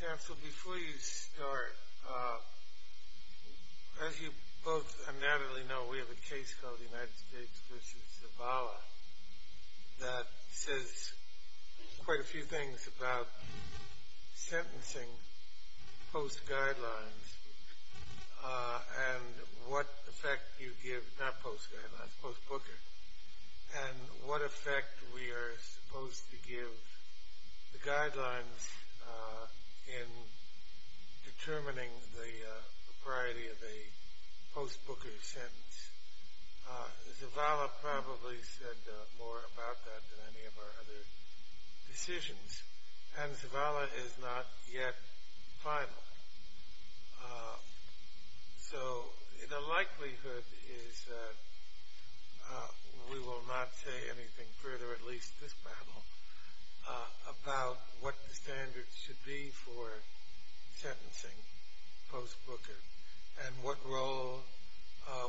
Council, before you start, as you both and Natalie know, we have a case called United States v. Zavala that says quite a few things about sentencing post-guidelines and what effect you give, not post-guidelines, post-booking, and what effect we are supposed to give the guidelines in determining the propriety of a post-booking sentence. Zavala probably said more about that than any of our other decisions, and Zavala is not yet final. So the likelihood is that we will not say anything further, at least this battle, about what the standards should be for sentencing post-booking and what role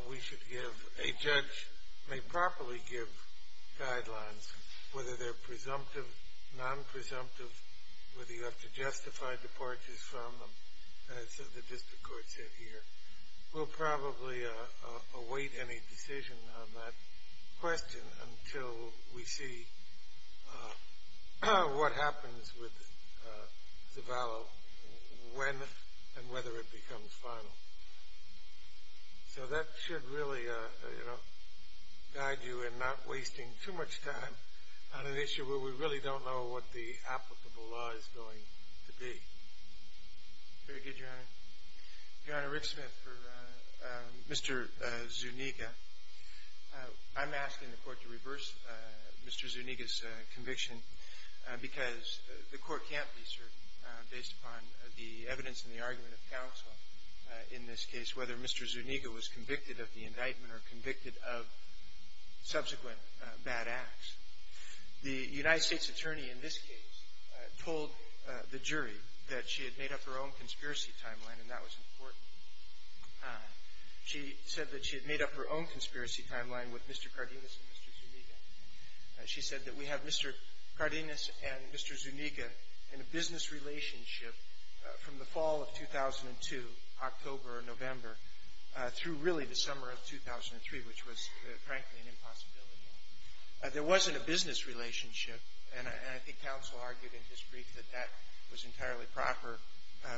we should give. A judge may properly give guidelines, whether they're presumptive, non-presumptive, whether you have to justify departures from them, as the district court said here. We'll probably await any decision on that question until we see what happens with Zavala, when and whether it becomes final. So that should really guide you in not wasting too much time on an issue where we really don't know what the applicable law is going to be. Very good, Your Honor. Your Honor, Rick Smith for Mr. Zuniga. I'm asking the court to reverse Mr. Zuniga's conviction because the court can't be certain, based upon the evidence and the argument of counsel in this case, whether Mr. Zuniga was convicted of the indictment or convicted of subsequent bad acts. The United States attorney in this case told the jury that she had made up her own conspiracy timeline, and that was important. She said that she had made up her own conspiracy timeline with Mr. Cardenas and Mr. Zuniga. She said that we have Mr. Cardenas and Mr. Zuniga in a business relationship from the fall of 2002, October or November, through really the summer of 2003, which was frankly an impossibility. There wasn't a business relationship, and I think counsel argued in his brief that that was entirely proper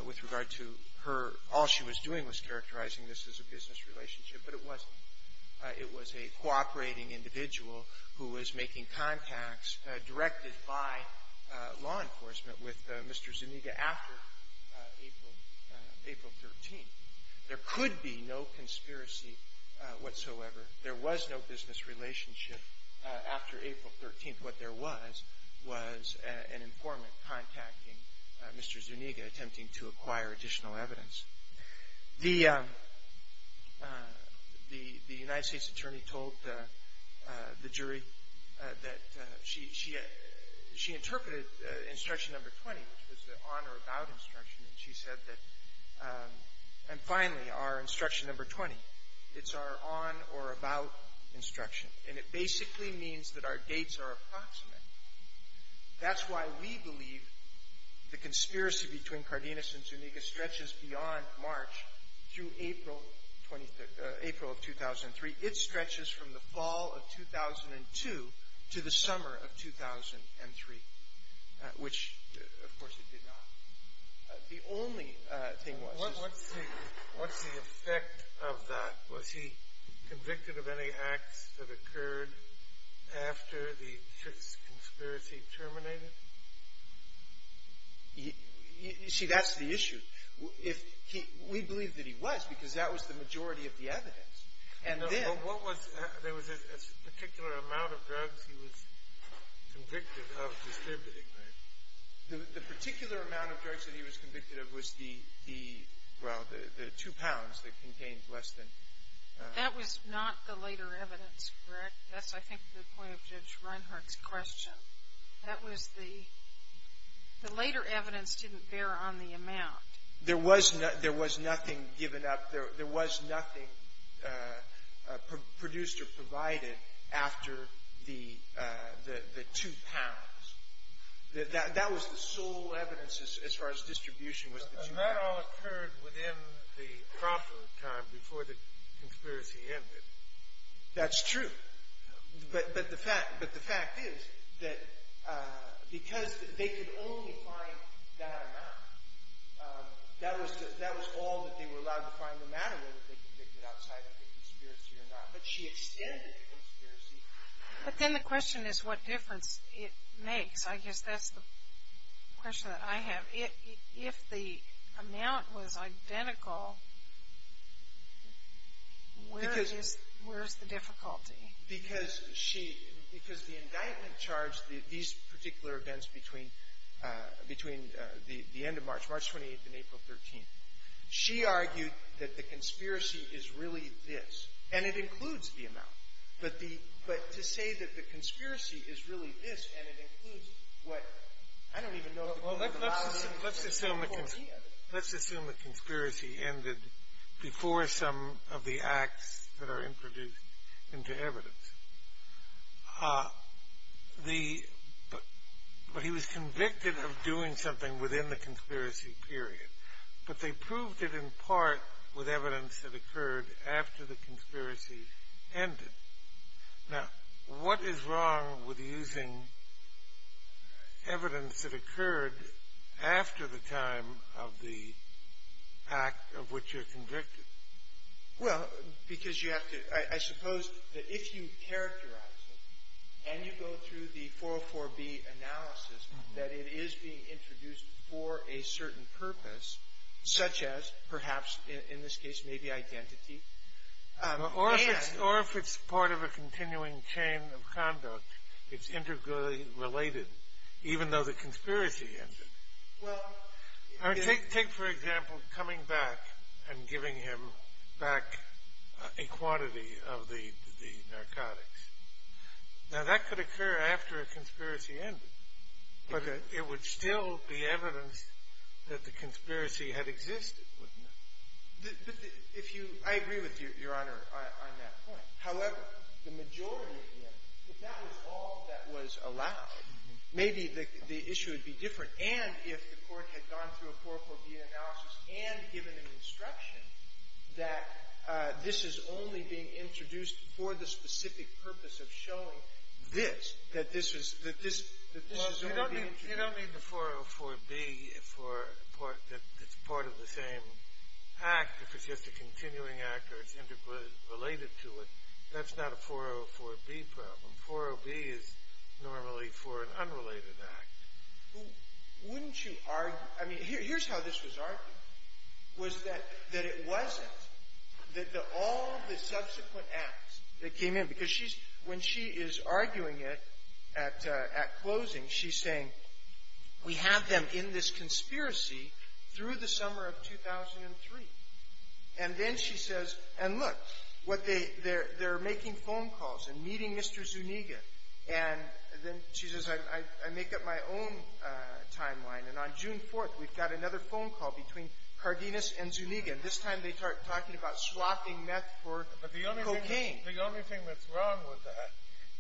with regard to her. All she was doing was characterizing this as a business relationship, but it wasn't. It was a cooperating individual who was making contacts directed by law enforcement with Mr. Zuniga after April 13th. There could be no conspiracy whatsoever. There was no business relationship after April 13th. What there was was an informant contacting Mr. Zuniga, attempting to acquire additional evidence. The United States attorney told the jury that she interpreted instruction number 20, which was the on or about instruction, and she said that, and finally, our instruction number 20, it's our on or about instruction, and it basically means that our dates are approximate. That's why we believe the conspiracy between Cardenas and Zuniga stretches beyond March through April of 2003. It stretches from the fall of 2002 to the summer of 2003, which, of course, it did not. The only thing was... What's the effect of that? Was he convicted of any acts that occurred after the Fitts conspiracy terminated? See, that's the issue. We believe that he was, because that was the majority of the evidence. And then... What was... There was a particular amount of drugs he was convicted of distributing, right? The particular amount of drugs that he was convicted of was the, well, the two pounds that contained less than... That was not the later evidence, correct? That's, I think, the point of Judge Reinhart's question. That was the... The later evidence didn't bear on the amount. There was nothing given up. There was nothing produced or provided after the two pounds. That was the sole evidence as far as distribution was concerned. But that all occurred within the proper time before the conspiracy ended. That's true. But the fact is that because they could only find that amount, that was all that they were allowed to find no matter whether they were convicted outside of the conspiracy or not. But she extended the conspiracy. But then the question is what difference it makes. I guess that's the question that I have. If the amount was identical, where is the difficulty? Because she, because the indictment charged these particular events between the end of March, March 28th and April 13th, she argued that the conspiracy is really this. And it includes the amount. But to say that the conspiracy is really this and it includes what, I don't even know... Well, let's assume the conspiracy ended before some of the acts that are introduced into evidence. But he was convicted of doing something within the conspiracy period. But they proved it in part with evidence that occurred after the conspiracy ended. Now, what is wrong with using evidence that occurred after the time of the act of which you're convicted? Well, because you have to, I suppose that if you characterize it and you go through the 404B analysis that it is being introduced for a certain purpose, such as perhaps, in this case, maybe identity. Or if it's part of a continuing chain of conduct, it's integrally related, even though the conspiracy ended. Take, for example, coming back and giving him back a quantity of the narcotics. Now, that could occur after a conspiracy ended. But it would still be evidence that the conspiracy had existed, wouldn't it? I agree with Your Honor on that point. However, the majority of the evidence, if that was all that was allowed, maybe the issue would be different. And if the Court had gone through a 404B analysis and given an instruction that this is only being introduced for the specific purpose of showing this, that this is only being introduced. Well, you don't need the 404B that's part of the same act if it's just a continuing act or it's integrally related to it. That's not a 404B problem. 404B is normally for an unrelated act. Wouldn't you argue? I mean, here's how this was argued, was that it wasn't, that all of the subsequent acts that came in, because she's, when she is arguing it at closing, she's saying, we have them in this conspiracy through the summer of 2003. And then she says, and look, what they, they're making phone calls and meeting Mr. Zuniga. And then she says, I make up my own timeline. And on June 4th, we've got another phone call between Cardenas and Zuniga. And this time, they're talking about swapping meth for cocaine. But the only thing that's wrong with that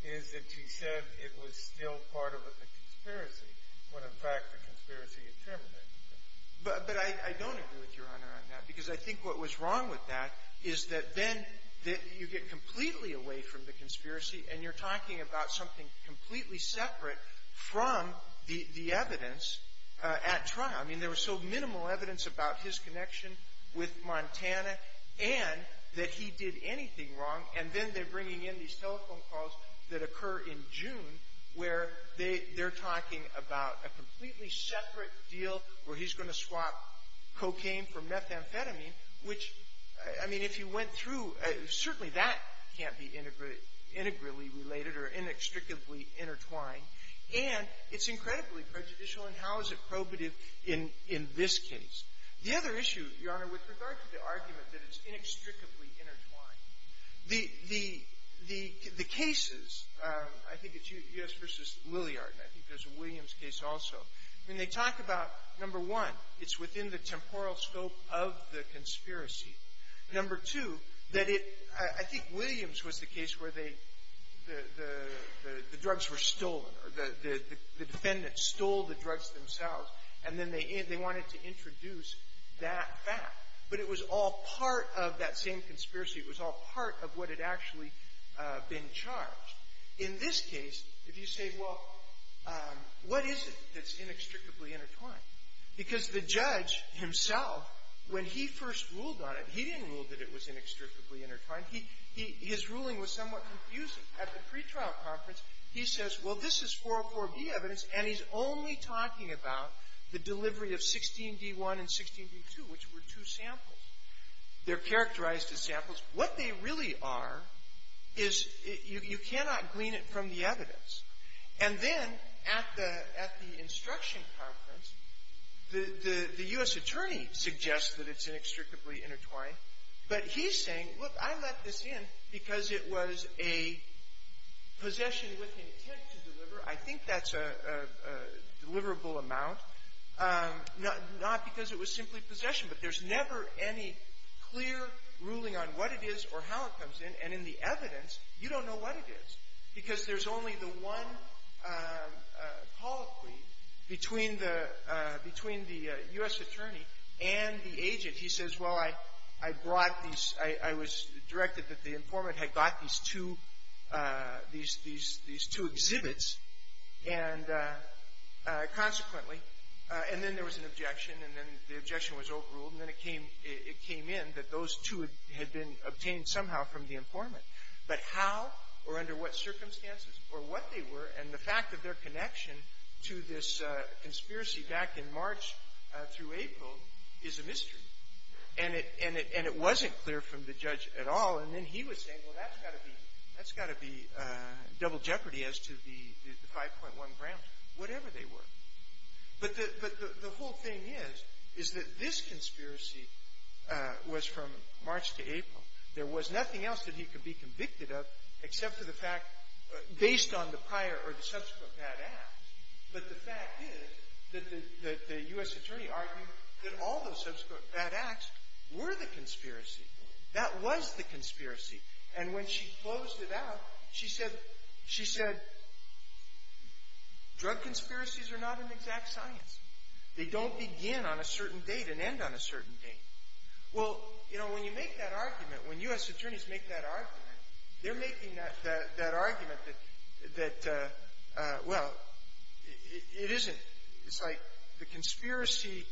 is that she said it was still part of a conspiracy when, in fact, the conspiracy had terminated. But I don't agree with Your Honor on that because I think what was wrong with that is that then you get completely away from the conspiracy, and you're talking about something completely separate from the evidence at trial. I mean, there was so minimal evidence about his connection with Montana and that he did anything wrong. And then they're bringing in these telephone calls that occur in June where they're talking about a completely separate deal where he's going to swap cocaine for methamphetamine, which, I mean, if you went through, certainly that can't be integrally related or inextricably intertwined. And it's incredibly prejudicial, and how is it probative in this case? The other issue, Your Honor, with regard to the argument that it's inextricably intertwined, the cases, I think it's U.S. v. Lilliard, and I think there's a Williams case also. I mean, they talk about, number one, it's within the temporal scope of the conspiracy. Number two, that it — I think Williams was the case where they — the drugs were stolen, or the defendants stole the drugs themselves, and then they wanted to introduce that fact. But it was all part of that same conspiracy. It was all part of what had actually been charged. In this case, if you say, well, what is it that's inextricably intertwined? Because the judge himself, when he first ruled on it, he didn't rule that it was inextricably intertwined. He — his ruling was somewhat confusing. At the pretrial conference, he says, well, this is 404B evidence, and he's only talking about the delivery of 16D1 and 16D2, which were two samples. They're characterized as samples. What they really are is — you cannot glean it from the evidence. And then at the — at the instruction conference, the — the U.S. attorney suggests that it's inextricably intertwined, but he's saying, look, I let this in because it was a possession with intent to deliver. I think that's a deliverable amount, not because it was simply possession, but there's never any clear ruling on what it is or how it comes in, and in the evidence, you don't know what it is, because there's only the one colloquy between the — between the U.S. attorney and the agent. He says, well, I brought these — I was directed that the informant had got these two — these two exhibits, and consequently — and then there was an objection, and then the objection was overruled, and then it came in that those two had been obtained somehow from the informant. But how or under what circumstances or what they were and the fact of their connection to this conspiracy back in March through April is a mystery. And it — and it — and it wasn't clear from the judge at all. And then he was saying, well, that's got to be — that's got to be double jeopardy as to the — the 5.1 grams, whatever they were. But the — but the whole thing is, is that this conspiracy was from March to April. There was nothing else that he could be convicted of except for the fact, based on the prior or the subsequent bad acts. But the fact is that the — that the U.S. attorney argued that all those subsequent bad acts were the conspiracy. That was the conspiracy. And when she closed it out, she said — she said, drug conspiracies are not an exact science. They don't begin on a certain date and end on a certain date. Well, you know, when you make that argument, when U.S. attorneys make that argument, they're making that — that argument that — that, well, it isn't. It's like the conspiracy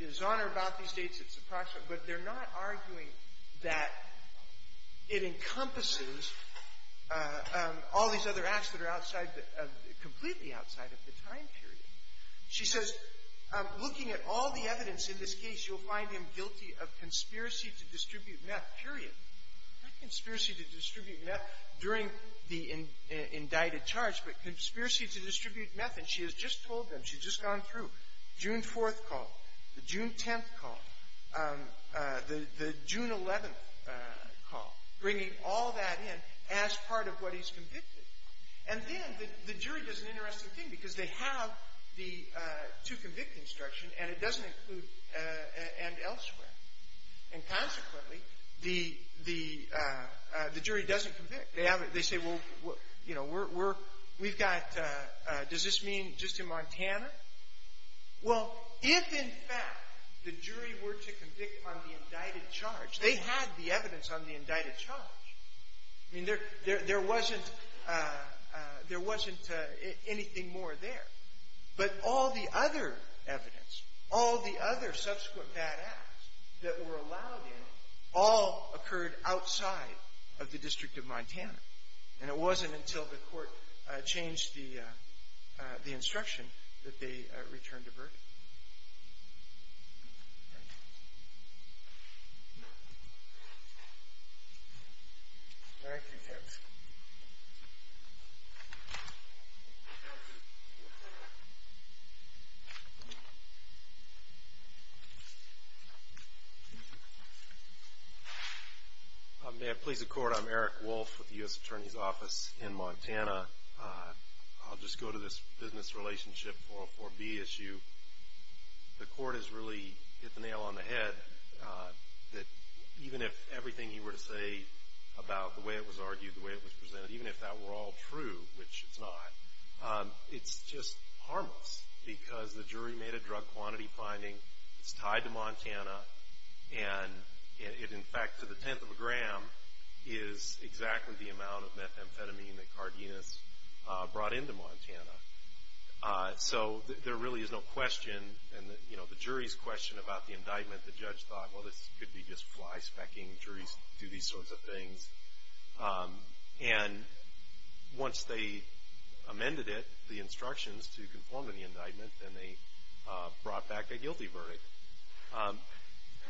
is on or about these dates. It's approximate. But they're not arguing that it encompasses all these other acts that are outside of — completely outside of the time period. She says, looking at all the evidence in this case, you'll find him guilty of conspiracy to distribute meth, period. Not conspiracy to distribute meth during the indicted charge, but conspiracy to distribute meth. And she has just told them. She's just gone through June 4th call, the June 10th call, the — the June 11th call, bringing all that in as part of what he's convicted. And then the jury does an interesting thing, because they have the to-convict instruction, and it doesn't include and elsewhere. And consequently, the — the jury doesn't convict. They have — they say, well, you know, we're — we've got — does this mean just in Montana? Well, if, in fact, the jury were to convict on the indicted charge, they had the evidence on the indicted charge. I mean, there — there wasn't — there wasn't anything more there. But all the other evidence, all the other subsequent bad acts that were allowed in all occurred outside of the District of Montana. And it wasn't until the court changed the — the instruction that they returned the verdict. Thank you. Thank you, Judge. Thank you. May it please the Court, I'm Eric Wolf with the U.S. Attorney's Office in Montana. I'll just go to this business relationship 404B issue. The court has really hit the nail on the head that even if everything he were to say about the way it was argued, the way it was presented, even if that were all true, which it's not, it's just harmless because the jury made a drug quantity finding. It's tied to Montana. And it, in fact, to the tenth of a gram is exactly the amount of methamphetamine that Cardenas brought into Montana. So there really is no question and, you know, the jury's question about the indictment, the judge thought, well, this could be just fly-specking. Juries do these sorts of things. And once they amended it, the instructions to conform to the indictment, then they brought back a guilty verdict.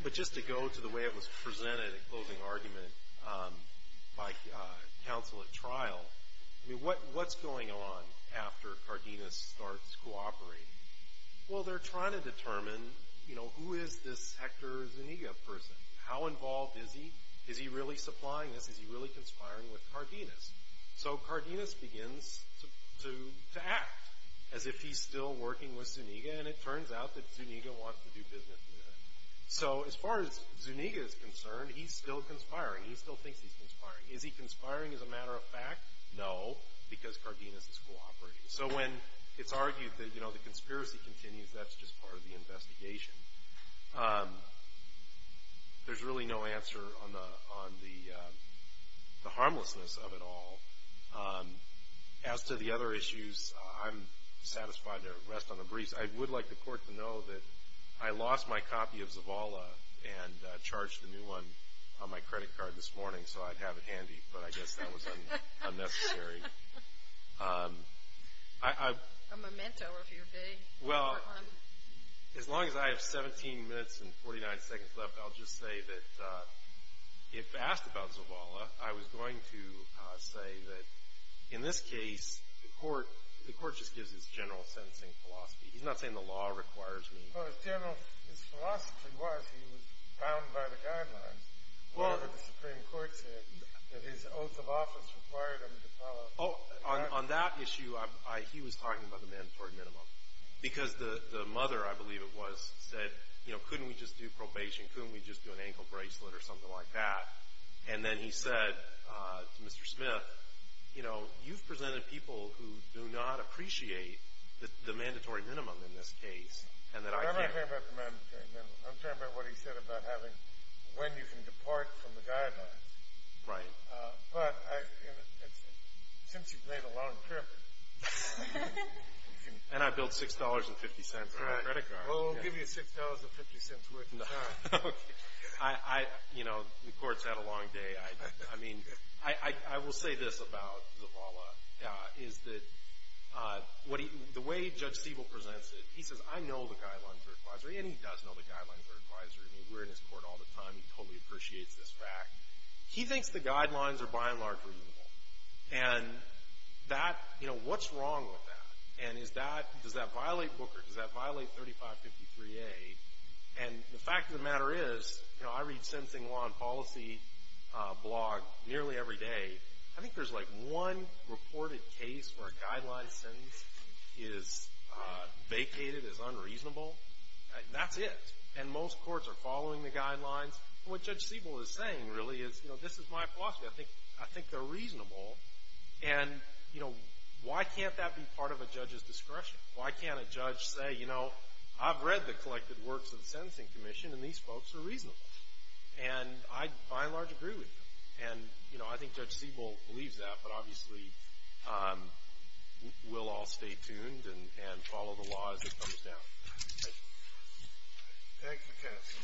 But just to go to the way it was presented in closing argument by counsel at trial, I mean, what's going on after Cardenas starts cooperating? Well, they're trying to determine, you know, who is this Hector Zuniga person? How involved is he? Is he really supplying this? Is he really conspiring with Cardenas? So Cardenas begins to act as if he's still working with Zuniga. And it turns out that Zuniga wants to do business with him. So as far as Zuniga is concerned, he's still conspiring. He still thinks he's conspiring. Is he conspiring as a matter of fact? No, because Cardenas is cooperating. So when it's argued that, you know, the conspiracy continues, that's just part of the investigation. There's really no answer on the harmlessness of it all. As to the other issues, I'm satisfied to rest on a breeze. I would like the court to know that I lost my copy of Zavala and charged the new one on my credit card this morning so I'd have it handy. But I guess that was unnecessary. A memento of your day. Well, as long as I have 17 minutes and 49 seconds left, I'll just say that if asked about Zavala, I was going to say that in this case the court just gives his general sentencing philosophy. He's not saying the law requires me. Well, his general philosophy was he was bound by the guidelines. Well. The Supreme Court said that his oath of office required him to follow. Oh, on that issue, he was talking about the mandatory minimum because the mother, I believe it was, said, you know, couldn't we just do probation? Couldn't we just do an ankle bracelet or something like that? And then he said to Mr. Smith, you know, you've presented people who do not appreciate the mandatory minimum in this case and that I can't. I'm not talking about the mandatory minimum. I'm talking about what he said about having when you can depart from the guidelines. Right. But since you've made a long trip. And I billed $6.50 for my credit card. Well, we'll give you $6.50 worth of time. Okay. You know, the court's had a long day. I mean, I will say this about Zavala, is that the way Judge Siebel presents it, he says, I know the guidelines are advisory, and he does know the guidelines are advisory. I mean, we're in his court all the time. He totally appreciates this fact. He thinks the guidelines are by and large reasonable. And that, you know, what's wrong with that? And is that, does that violate Booker? Does that violate 3553A? And the fact of the matter is, you know, I read Sensing Law and Policy blog nearly every day. I think there's, like, one reported case where a guideline sentence is vacated, is unreasonable. That's it. And most courts are following the guidelines. What Judge Siebel is saying, really, is, you know, this is my philosophy. I think they're reasonable. And, you know, why can't that be part of a judge's discretion? Why can't a judge say, you know, I've read the collected works of the Sentencing Commission, and these folks are reasonable. And I, by and large, agree with them. And, you know, I think Judge Siebel believes that. But, obviously, we'll all stay tuned and follow the law as it comes down. Thank you. Thank you, Kenneth.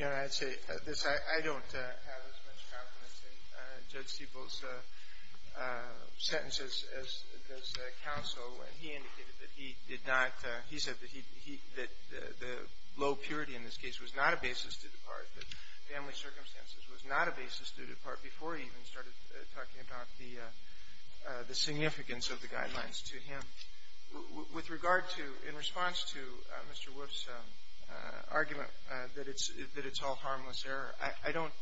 You know, I'd say, I don't have as much confidence in Judge Siebel's sentences as does counsel. And he indicated that he did not, he said that the low purity in this case was not a basis to depart, that family circumstances was not a basis to depart, before he even started talking about the significance of the guidelines to him. With regard to, in response to Mr. Wolf's argument that it's all harmless error, I don't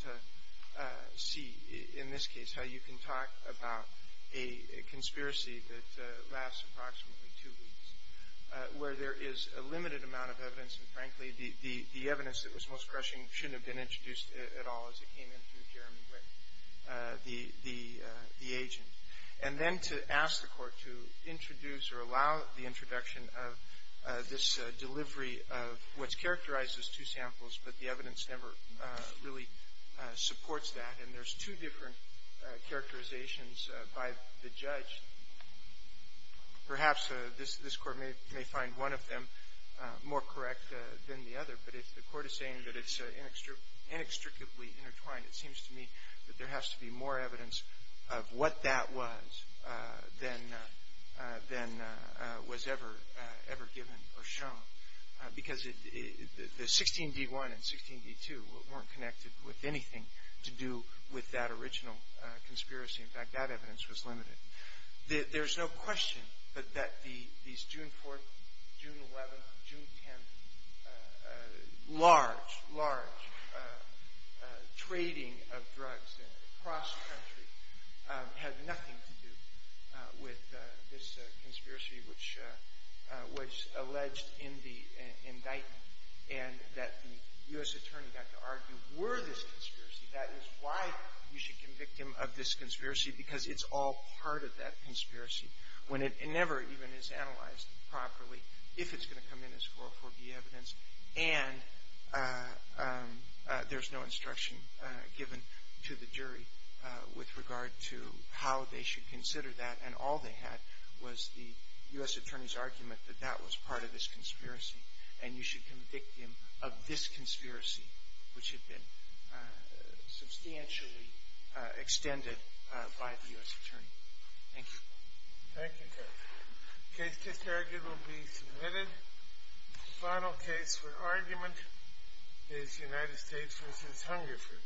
see, in this case, how you can talk about a conspiracy that lasts approximately two weeks, where there is a limited amount of evidence, and, frankly, the evidence that was most crushing shouldn't have been introduced at all as it came in through Jeremy Wick, the agent. And then to ask the Court to introduce or allow the introduction of this delivery of what's characterized as two samples, but the evidence never really supports that. And there's two different characterizations by the judge. Perhaps this Court may find one of them more correct than the other. But if the Court is saying that it's inextricably intertwined, it seems to me that there has to be more evidence of what that was than was ever given or shown. Because the 16D1 and 16D2 weren't connected with anything to do with that original conspiracy. In fact, that evidence was limited. There's no question that these June 4th, June 11th, June 10th large, large trading of drugs across the country had nothing to do with this conspiracy which was alleged in the indictment, and that the U.S. Attorney got to argue were this conspiracy, that is why we should convict him of this conspiracy because it's all part of that conspiracy, when it never even is analyzed properly, if it's going to come in as 404B evidence, and there's no instruction given to the jury with regard to how they should consider that, and all they had was the U.S. Attorney's argument that that was part of this conspiracy, and you should convict him of this conspiracy, which had been substantially extended by the U.S. Attorney. Thank you, Judge. The case just argued will be submitted. The final case for argument is United States v. Hungerford.